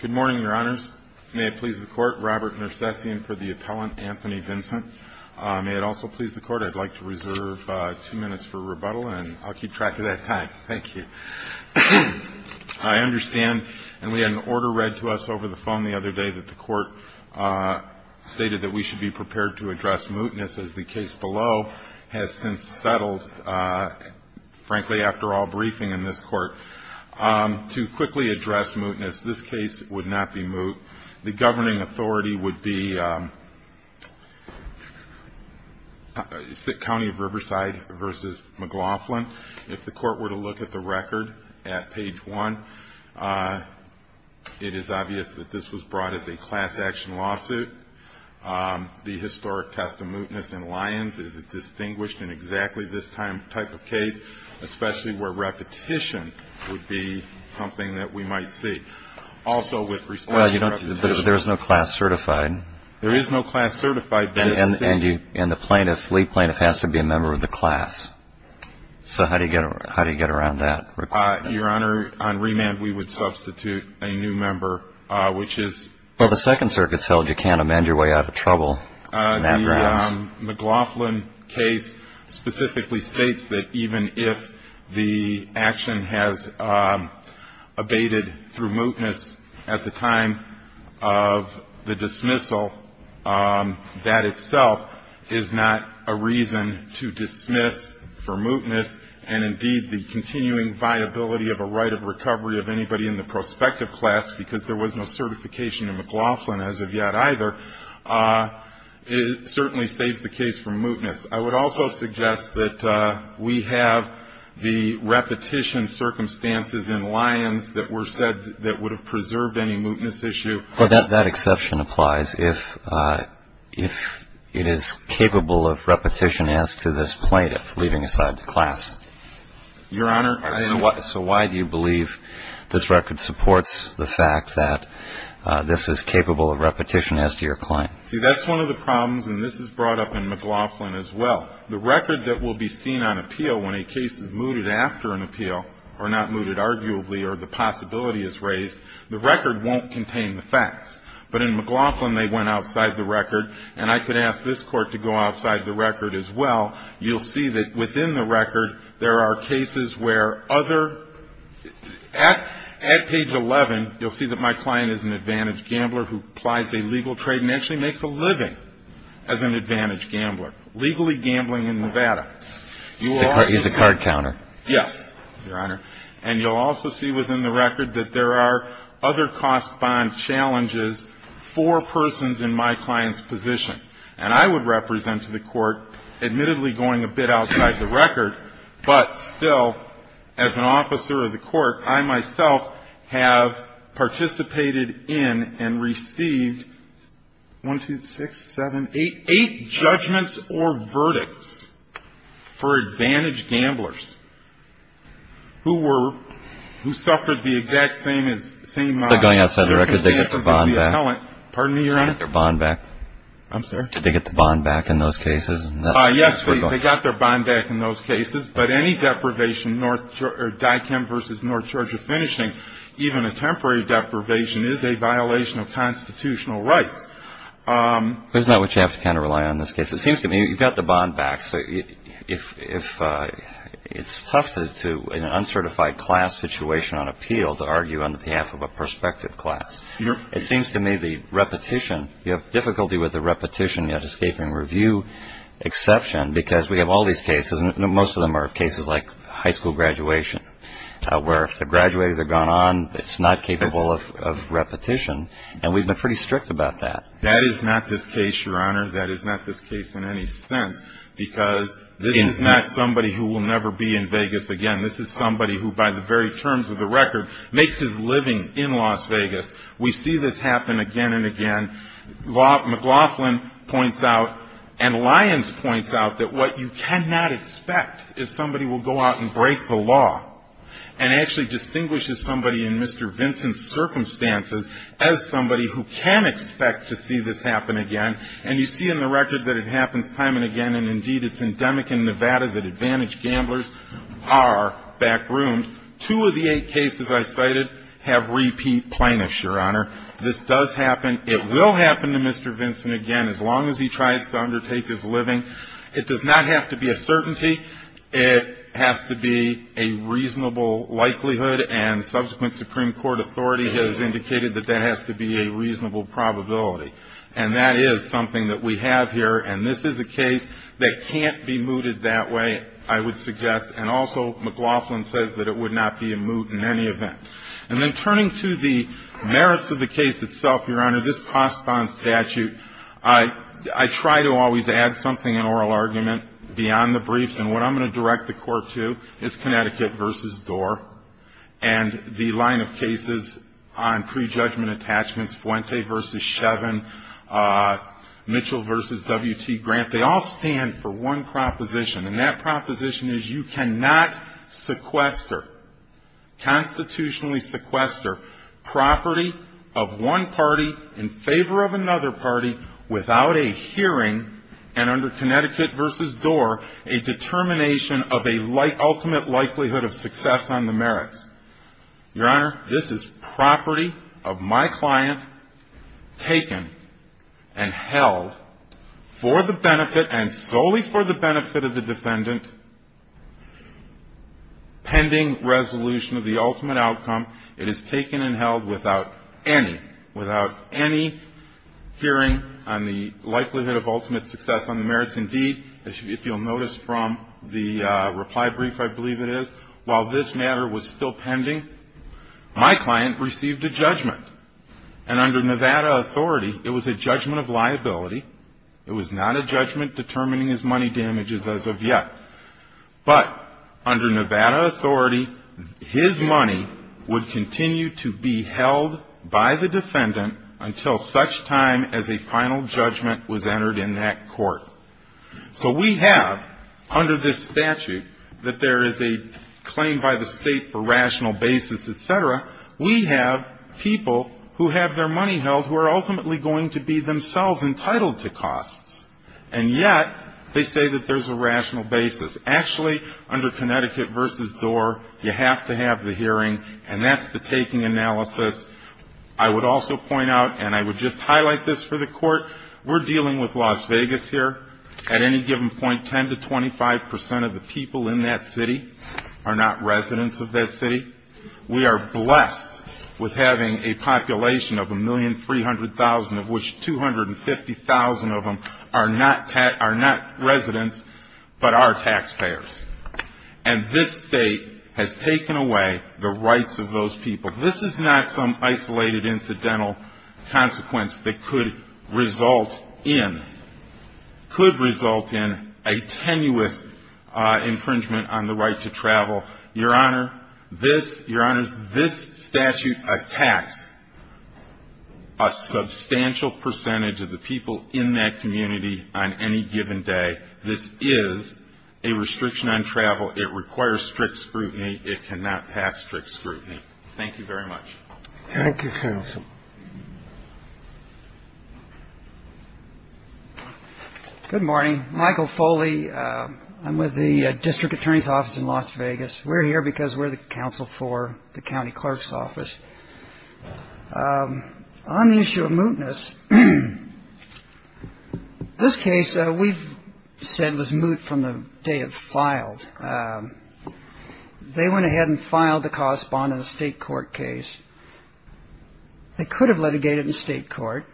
Good morning, Your Honors. May it please the Court, Robert Nersessian for the appellant, Anthony Vincent. May it also please the Court, I'd like to reserve two minutes for rebuttal, and I'll keep track of that time. Thank you. I understand, and we had an order read to us over the phone the other day that the Court stated that we should be prepared to address mootness, as the case below has since settled, frankly, after all briefing in this Court. To quickly address mootness, this case would not be moot. The governing authority would be County of Riverside v. McLaughlin. If the Court were to look at the record at page 1, it is obvious that this was brought as a class action lawsuit. The historic test of mootness in Lyons is distinguished in exactly this type of case, especially where repetition would be something that we might see. Also with respect to repetition. Well, you don't, there's no class certified. There is no class certified. And the plaintiff, lead plaintiff, has to be a member of the class. So how do you get around that requirement? Your Honor, on remand, we would substitute a new member, which is... Well, if you can't amend your way out of trouble in that grounds. The McLaughlin case specifically states that even if the action has abated through mootness at the time of the dismissal, that itself is not a reason to dismiss for mootness and indeed the continuing viability of a right of recovery of anybody in the prospective class because there was no certification in McLaughlin as of yet either, it certainly states the case for mootness. I would also suggest that we have the repetition circumstances in Lyons that were said that would have preserved any mootness issue. Well, that exception applies if it is capable of repetition as to this plaintiff leaving aside the class. Your Honor. So why do you believe this record supports the fact that this is capable of repetition as to your claim? See, that's one of the problems, and this is brought up in McLaughlin as well. The record that will be seen on appeal when a case is mooted after an appeal or not mooted arguably or the possibility is raised, the record won't contain the facts. But in McLaughlin, they went outside the record. And I could ask this Court to go outside the record as well. You'll see that within the record, there are cases where other at page 11, you'll see that my client is an advantaged gambler who applies a legal trade and actually makes a living as an advantaged gambler, legally gambling in Nevada. He's a card counter. Yes, Your Honor. And you'll also see within the record that there are other cost bond challenges for persons in my client's position. And I would represent to the Court, admittedly, going a bit outside the record, but still, as an officer of the Court, I myself have participated in and received 1, 2, 6, 7, 8, 8 judgments or verdicts for advantaged gamblers who were, who suffered the exact same as, same lives. So going outside the record, did they get the bond back? Pardon me, Your Honor? Did they get their bond back? I'm sorry? Did they get the bond back in those cases? Yes, they got their bond back in those cases. But any deprivation, or DICAM versus North Georgia finishing, even a temporary deprivation is a violation of constitutional rights. Isn't that what you have to kind of rely on in this case? It seems to me you've got the bond back. So if it's tough to, in an uncertified class situation on appeal, to argue on behalf of a prospective class, it seems to me the repetition, you have difficulty with the repetition yet escaping review exception, because we have all these cases, and most of them are cases like high school graduation, where if the graduates have gone on, it's not capable of repetition, and we've been pretty strict about that. That is not this case, Your Honor. That is not this case in any sense, because this is not somebody who will never be in Vegas again. This is somebody who, by the very terms of the record, makes his living in Las Vegas. We see this happen again and again. McLaughlin points out, and Lyons points out, that what you cannot expect is somebody will go out and break the law, and actually distinguishes somebody in Mr. Vincent's circumstances as somebody who can expect to see this happen again. And you see in the record that it happens time and again, and indeed it's endemic in Nevada that advantaged gamblers are backroomed. Two of the eight cases I cited have repeat plaintiffs, Your Honor. This does happen. It will happen to Mr. Vincent again, as long as he tries to undertake his living. It does not have to be a certainty. It has to be a reasonable likelihood, and subsequent Supreme Court authority has indicated that that has to be a reasonable probability. And that is something that we have here, and this is a case that can't be mooted that way, I would suggest. And also McLaughlin says that it would not be a moot in any event. And then turning to the merits of the case itself, Your Honor, this cost bond statute, I try to always add something in oral argument beyond the briefs. And what I'm going to direct the Court to is Connecticut v. Dorr and the line of cases on prejudgment attachments, Fuente v. Shevin, Mitchell v. W.T. Grant. They all stand for one proposition, and that proposition is you cannot sequester, constitutionally sequester, property of one party in favor of another party without a hearing, and under Connecticut v. Dorr, a determination of a ultimate likelihood of success on the merits. Your Honor, this is property of my client taken and held for the benefit and solely for the benefit of the defendant pending resolution of the ultimate outcome. It is taken and held without any, without any hearing on the likelihood of ultimate success on the merits. Indeed, if you'll notice from the reply brief, I believe it is, while this matter was still pending, my client received a judgment. And under Nevada authority, it was a judgment of liability. It was not a judgment determining his money damages as of yet. But under Nevada authority, his money would continue to be held by the defendant until such time as a final judgment was entered in that court. So we have, under this statute, that there is a claim by the State for rational basis, et cetera. We have people who have their money held who are ultimately going to be themselves entitled to costs. And yet they say that there's a rational basis. Actually, under Connecticut v. Dorr, you have to have the hearing, and that's the taking analysis. I would also point out, and I would just highlight this for the Court, we're dealing with Las Vegas here. At any given point, 10 to 25 percent of the people in that city are not residents of that city. We are blessed with having a population of 1,300,000, of which 250,000 of them are not residents but are taxpayers. And this State has taken away the rights of those people. This is not some isolated incidental consequence that could result in a tenuous infringement on the right to travel. Your Honor, this statute attacks a substantial percentage of the people in that community on any given day. This is a restriction on travel. It requires strict scrutiny. It cannot pass strict scrutiny. Thank you very much. Thank you, Counsel. Good morning. Michael Foley. I'm with the District Attorney's Office in Las Vegas. We're here because we're the counsel for the County Clerk's Office. On the issue of mootness, this case we've said was moot from the day it was filed. They went ahead and filed the correspondent in a state court case. They could have litigated in state court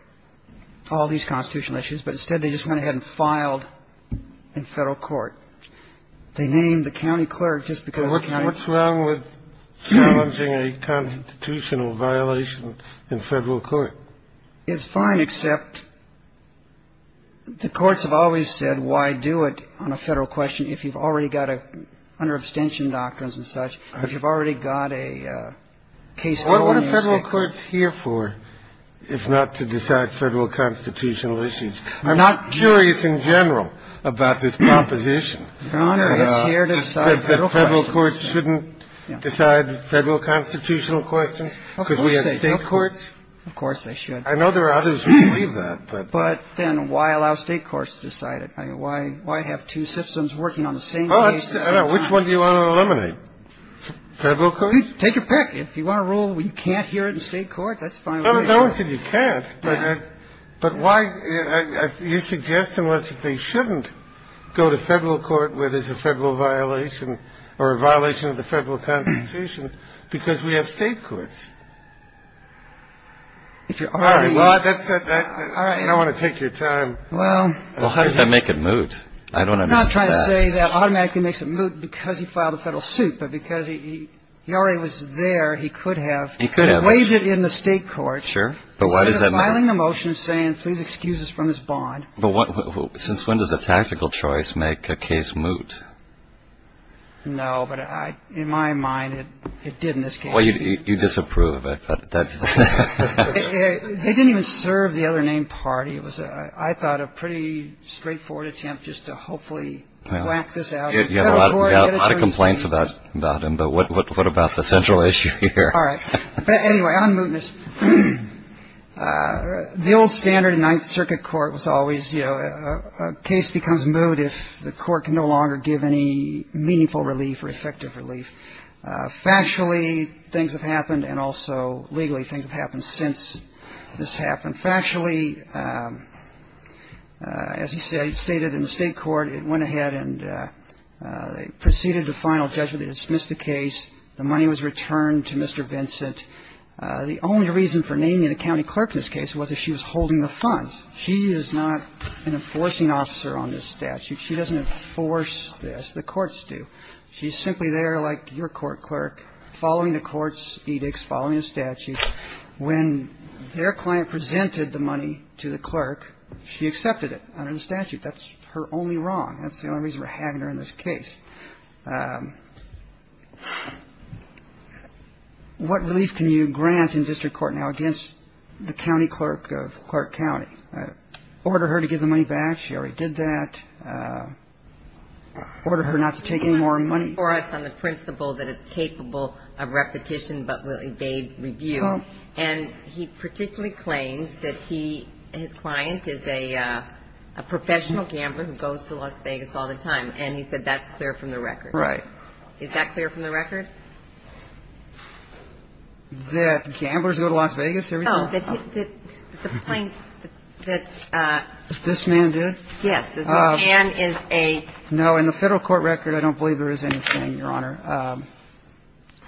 all these constitutional issues, but instead they just went ahead and filed in federal court. They named the county clerk just because the county clerk ---- What's wrong with challenging a constitutional violation in federal court? It's fine, except the courts have always said why do it on a federal question if you've already got a ---- under abstention doctrines and such, if you've already got a case ---- What are federal courts here for if not to decide federal constitutional issues? I'm not curious in general about this proposition. Your Honor, it's here to decide federal questions. Federal courts shouldn't decide federal constitutional questions because we have state courts. Of course they should. I know there are others who believe that, but ---- But then why allow state courts to decide it? Why have two systems working on the same case? I don't know. Which one do you want to eliminate? Federal courts? Take your pick. If you want a rule where you can't hear it in state court, that's fine with me. No one said you can't. But why ---- you're suggesting that they shouldn't go to federal court where there's a federal violation or a violation of the federal constitution because we have state courts? If you already ---- All right. I don't want to take your time. Well, how does that make it moot? I don't understand that. I'm not trying to say that automatically makes it moot because he filed a federal suit, but because he already was there, he could have ---- He could have. ---- waived it in the state court. Sure. But why does that matter? Instead of filing a motion saying, please excuse us from this bond. But what ---- since when does a tactical choice make a case moot? No, but I ---- in my mind, it did in this case. Well, you disapprove of it, but that's ---- They didn't even serve the other name party. It was, I thought, a pretty straightforward attempt just to hopefully whack this out. You have a lot of complaints about him, but what about the central issue here? All right. But anyway, on mootness, the old standard in Ninth Circuit court was always, you know, a case becomes moot if the court can no longer give any meaningful relief or effective relief. Factually, things have happened, and also legally, things have happened since this happened. Factually, as he stated in the state court, it went ahead and they proceeded to final judgment. They dismissed the case. The money was returned to Mr. Vincent. The only reason for naming the county clerk in this case was that she was holding the funds. She is not an enforcing officer on this statute. She doesn't enforce this. The courts do. She's simply there like your court clerk, following the court's edicts, following the statute. When their client presented the money to the clerk, she accepted it under the statute. That's her only wrong. That's the only reason for having her in this case. What relief can you grant in district court now against the county clerk of Clark County? Order her to give the money back. She already did that. Order her not to take any more money. For us on the principle that it's capable of repetition but will evade review. And he particularly claims that his client is a professional gambler who goes to Las Vegas all the time. And he said that's clear from the record. Right. Is that clear from the record? That gamblers go to Las Vegas every time? No. The plaintiff. This man did? Yes. This man is a... No. In the federal court record, I don't believe there is anything, Your Honor.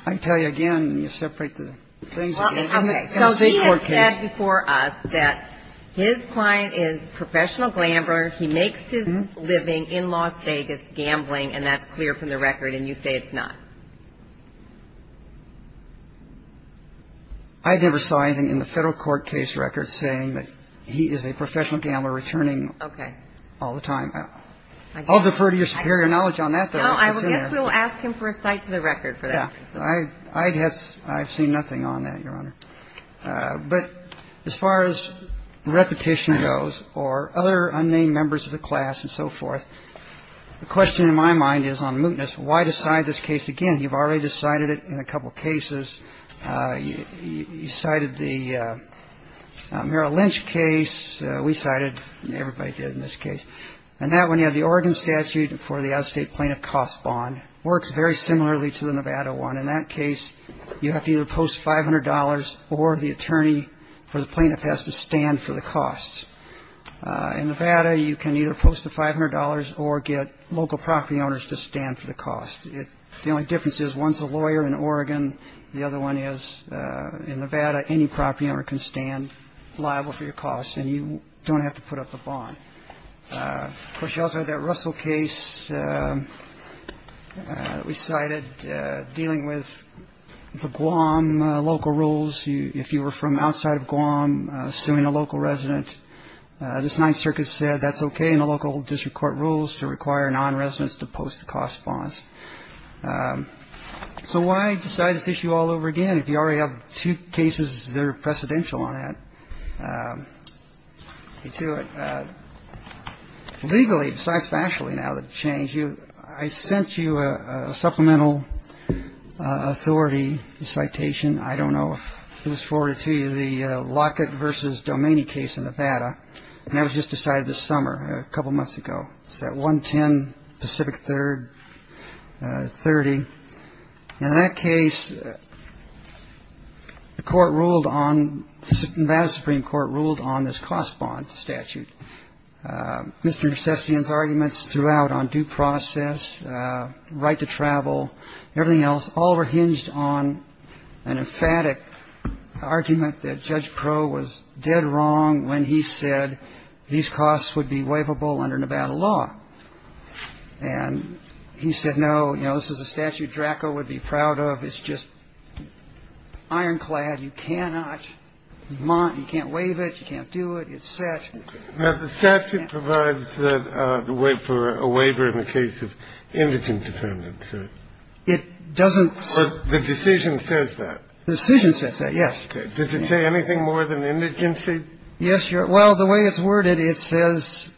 I can tell you again. You separate the things. Okay. So he has said before us that his client is a professional gambler. He makes his living in Las Vegas gambling, and that's clear from the record, and you say it's not. I never saw anything in the federal court case record saying that he is a professional gambler returning all the time. Okay. I'll defer to your superior knowledge on that, though. No, I guess we'll ask him for a cite to the record for that. Yeah. I've seen nothing on that, Your Honor. But as far as repetition goes or other unnamed members of the class and so forth, the question in my mind is on mootness, why decide this case again? You've already decided it in a couple of cases. You cited the Merrill Lynch case. We cited everybody did in this case. And that one, you have the Oregon statute for the out-of-state plaintiff cost bond. Works very similarly to the Nevada one. In that case, you have to either post $500 or the attorney for the plaintiff has to stand for the cost. In Nevada, you can either post the $500 or get local property owners to stand for the cost. The only difference is one's a lawyer in Oregon. The other one is in Nevada. Any property owner can stand liable for your costs and you don't have to put up a bond. Of course, you also have that Russell case that we cited dealing with the Guam local rules. If you were from outside of Guam suing a local resident, this Ninth Circuit said that's okay in the local district court rules to require non-residents to post the cost bonds. So why decide this issue all over again if you already have two cases that are precedential on that? You do it legally, besides factually now that change you. I sent you a supplemental authority citation. I don't know if it was forwarded to you. The Lockett versus Domini case in Nevada. And that was just decided this summer a couple of months ago. So 110 Pacific Third 30. In that case, the court ruled on the Supreme Court ruled on this cost bond statute. Mr. Sessions arguments throughout on due process, right to travel, everything else. All were hinged on an emphatic argument that Judge Crow was dead wrong when he said these costs would be waivable under Nevada law. And he said, no, you know, this is a statute Draco would be proud of. It's just ironclad. You cannot you can't waive it. You can't do it. It's said that the statute provides the way for a waiver in the case of indigent defendants. So it doesn't. The decision says that the decision says that. Yes. Does it say anything more than indigent? Yes. Well, the way it's worded, it says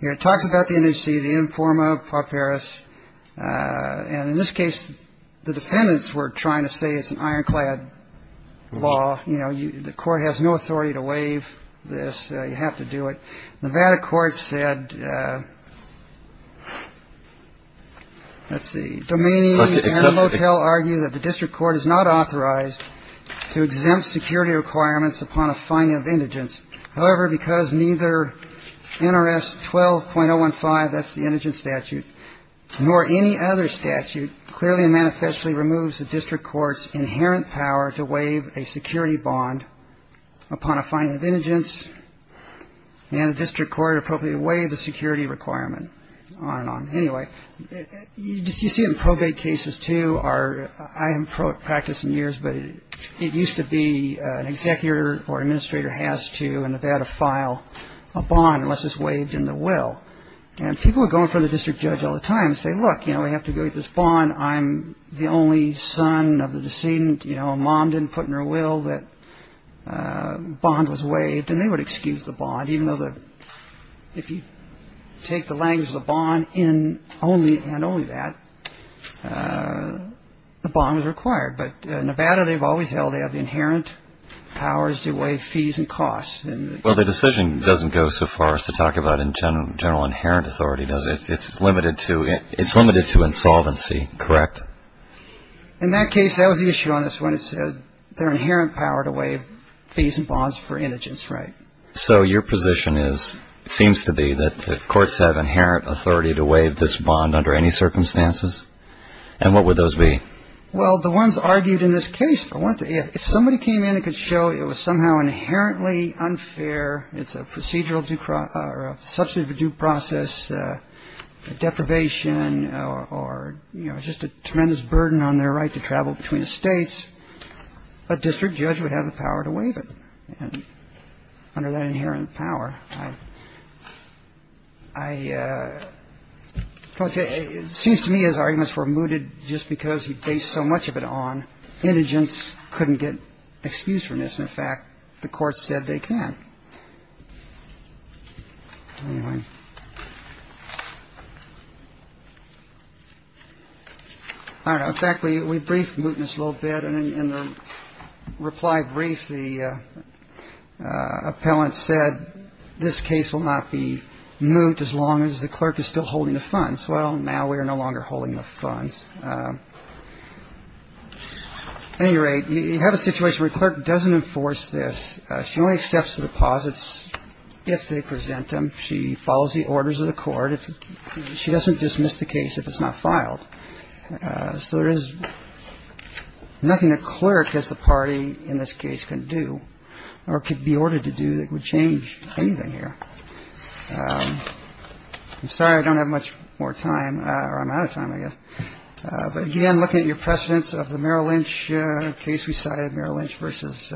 here it talks about the NEC, the informer of Paris. And in this case, the defendants were trying to say it's an ironclad law. You know, the court has no authority to waive this. You have to do it. Nevada court said. Let's see. Domini and Motel argue that the district court is not authorized to exempt security requirements upon a finding of indigence. However, because neither NRS 12.015, that's the indigent statute, nor any other statute clearly and manifestly removes the district court's inherent power to waive a security bond upon a finding of indigence. And the district court appropriately waived the security requirement. Anyway, you see it in probate cases, too. I haven't practiced in years, but it used to be an executor or administrator has to in Nevada file a bond unless it's waived in the will. And people are going for the district judge all the time and say, look, you know, we have to go with this bond. I'm the only son of the decedent. You know, mom didn't put in her will that bond was waived. And they would excuse the bond, even though if you take the language of the bond in only and only that, the bond was required. But Nevada, they've always held they have the inherent powers to waive fees and costs. Well, the decision doesn't go so far as to talk about in general inherent authority, does it? It's limited to it. It's limited to insolvency. Correct. In that case, that was the issue on this one. It said their inherent power to waive fees and bonds for indigence. Right. So your position is it seems to be that courts have inherent authority to waive this bond under any circumstances. And what would those be? Well, the ones argued in this case. I want to if somebody came in and could show it was somehow inherently unfair. It's a procedural due process or a substitute for due process deprivation or, you know, just a tremendous burden on their right to travel between the states. A district judge would have the power to waive it. And under that inherent power, I want to say it seems to me his arguments were mooted just because he based so much of it on indigence couldn't get excused from this. And, in fact, the courts said they can. All right. In fact, we briefed mootness a little bit. And in the reply brief, the appellant said this case will not be moved as long as the clerk is still holding the funds. Well, now we are no longer holding the funds. At any rate, you have a situation where a clerk doesn't enforce this. She only accepts the deposits if they present them. She follows the orders of the court. She doesn't dismiss the case if it's not filed. So there is nothing a clerk as the party in this case can do or could be ordered to do that would change anything here. I'm sorry I don't have much more time or I'm out of time, I guess. But, again, looking at your precedents of the Merrill Lynch case we cited, Merrill Lynch versus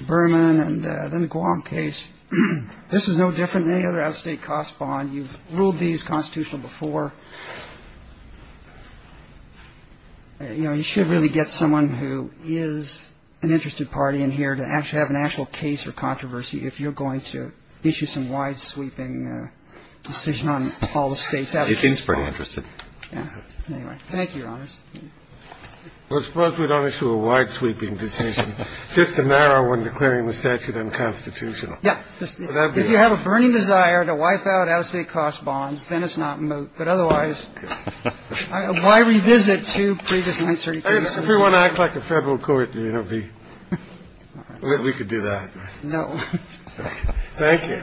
Berman, and then the Guam case, this is no different than any other out-of-state cost bond. You've ruled these constitutional before. You know, you should really get someone who is an interested party in here to actually have an actual case or controversy if you're going to issue some wide-sweeping decision on all the states' out-of-state bonds. He seems pretty interested. Thank you, Your Honors. Well, suppose we don't issue a wide-sweeping decision, just a narrow one declaring the statute unconstitutional. If you have a burning desire to wipe out out-of-state cost bonds, then it's not moot. But otherwise, why revisit two previous 933 cases? If we want to act like a Federal court, you know, we could do that. No. Thank you.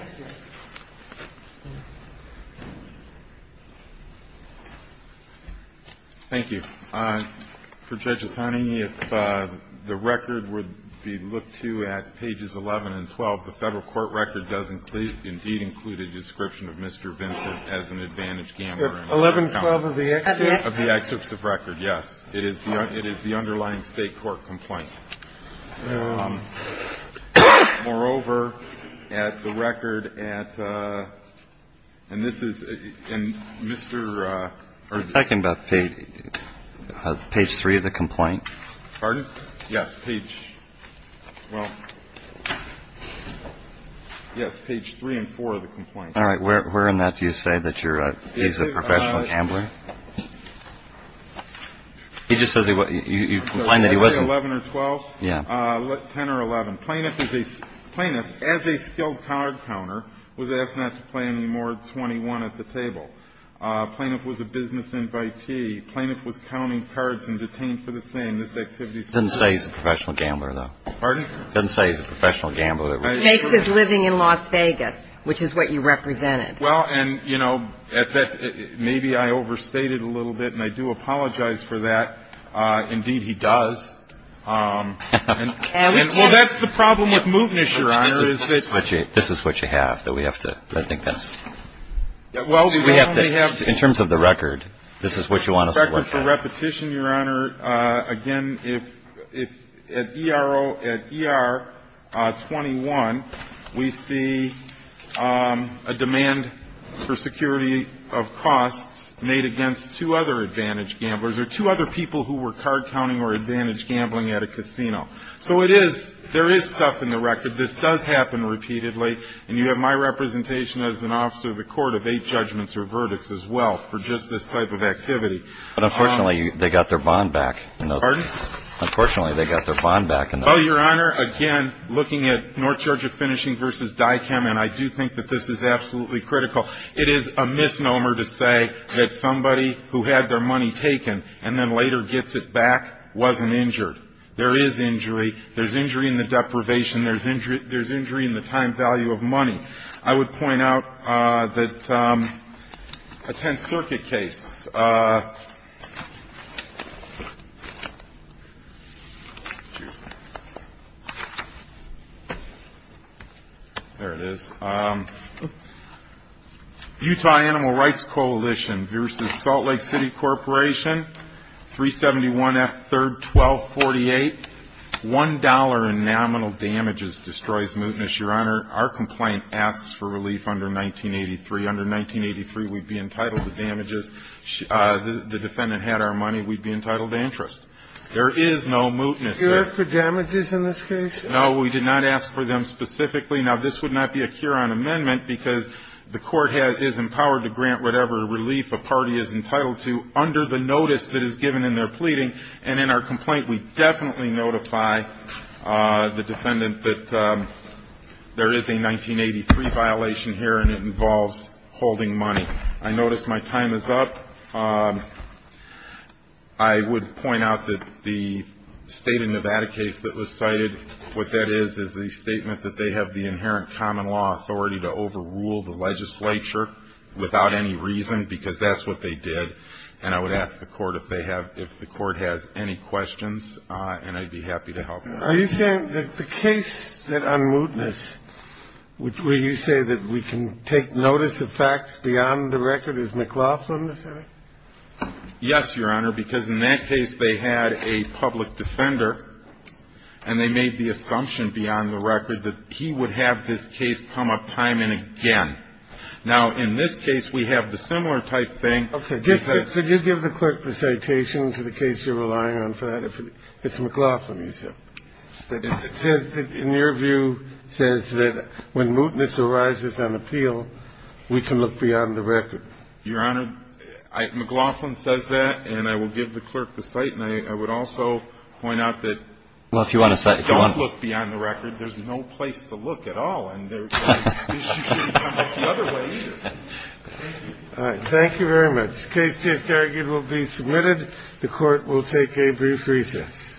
Thank you. For Judges Honey, if the record would be looked to at pages 11 and 12, the Federal court record does indeed include a description of Mr. Vincent as an advantaged gambler. 1112 of the excerpt? Of the excerpt of record, yes. It is the underlying State court complaint. Moreover, at the record at, and this is in Mr. You're talking about page 3 of the complaint? Pardon? Yes, page, well, yes, page 3 and 4 of the complaint. All right. Where in that do you say that he's a professional gambler? He just says he was, you complain that he wasn't. 11 or 12? Yeah. 10 or 11. Plaintiff is a, plaintiff, as a skilled card counter, was asked not to play any more than 21 at the table. Plaintiff was a business invitee. Plaintiff was counting cards and detained for the same. This activity is not. It doesn't say he's a professional gambler, though. Pardon? It doesn't say he's a professional gambler. Makes his living in Las Vegas, which is what you represented. Well, and, you know, at that, maybe I overstated a little bit, and I do apologize for that. Indeed, he does. And, well, that's the problem with moveness, Your Honor, is that. This is what you have, that we have to, I think that's. Well, we have to. In terms of the record, this is what you want us to look at. It's not a repetition, Your Honor. Again, if, at ERO, at ER 21, we see a demand for security of costs made against two other advantaged gamblers or two other people who were card counting or advantaged gambling at a casino. So it is, there is stuff in the record. This does happen repeatedly. And you have my representation as an officer of the court of eight judgments or verdicts as well for just this type of activity. But, unfortunately, they got their bond back. Pardon? Unfortunately, they got their bond back. Well, Your Honor, again, looking at North Georgia Finishing v. DICAM, and I do think that this is absolutely critical. It is a misnomer to say that somebody who had their money taken and then later gets it back wasn't injured. There is injury. There's injury in the deprivation. There's injury in the time value of money. I would point out that a Tenth Circuit case, there it is, Utah Animal Rights Coalition v. Salt Lake City Corporation, 371 F. 3rd 1248, $1 in nominal damages destroys mootness, Your Honor. Our complaint asks for relief under 1983. Under 1983, we'd be entitled to damages. The defendant had our money. We'd be entitled to interest. There is no mootness there. Did you ask for damages in this case? No, we did not ask for them specifically. Now, this would not be a cure-all amendment because the court is empowered to grant whatever relief a party is entitled to under the notice that is given in their pleading. And in our complaint, we definitely notify the defendant that there is a 1983 violation here, and it involves holding money. I notice my time is up. I would point out that the State of Nevada case that was cited, what that is, is a statement that they have the inherent common law authority to overrule the legislature without any reason because that's what they did. And I would ask the Court if they have – if the Court has any questions, and I'd be happy to help. Are you saying that the case that unmootness, where you say that we can take notice of facts beyond the record, is McLaughlin the defendant? Yes, Your Honor, because in that case, they had a public defender, and they made the assumption beyond the record that he would have this case come up time and again. Now, in this case, we have the similar type thing. Okay. So you give the clerk the citation to the case you're relying on for that. If it's McLaughlin, you say. But it says that, in your view, says that when mootness arises on appeal, we can look beyond the record. Your Honor, McLaughlin says that, and I will give the clerk the cite, and I would also point out that don't look beyond the record. There's no place to look at all, and there's no place to come up the other way either. All right. Thank you very much. The case just argued will be submitted. The Court will take a brief recess.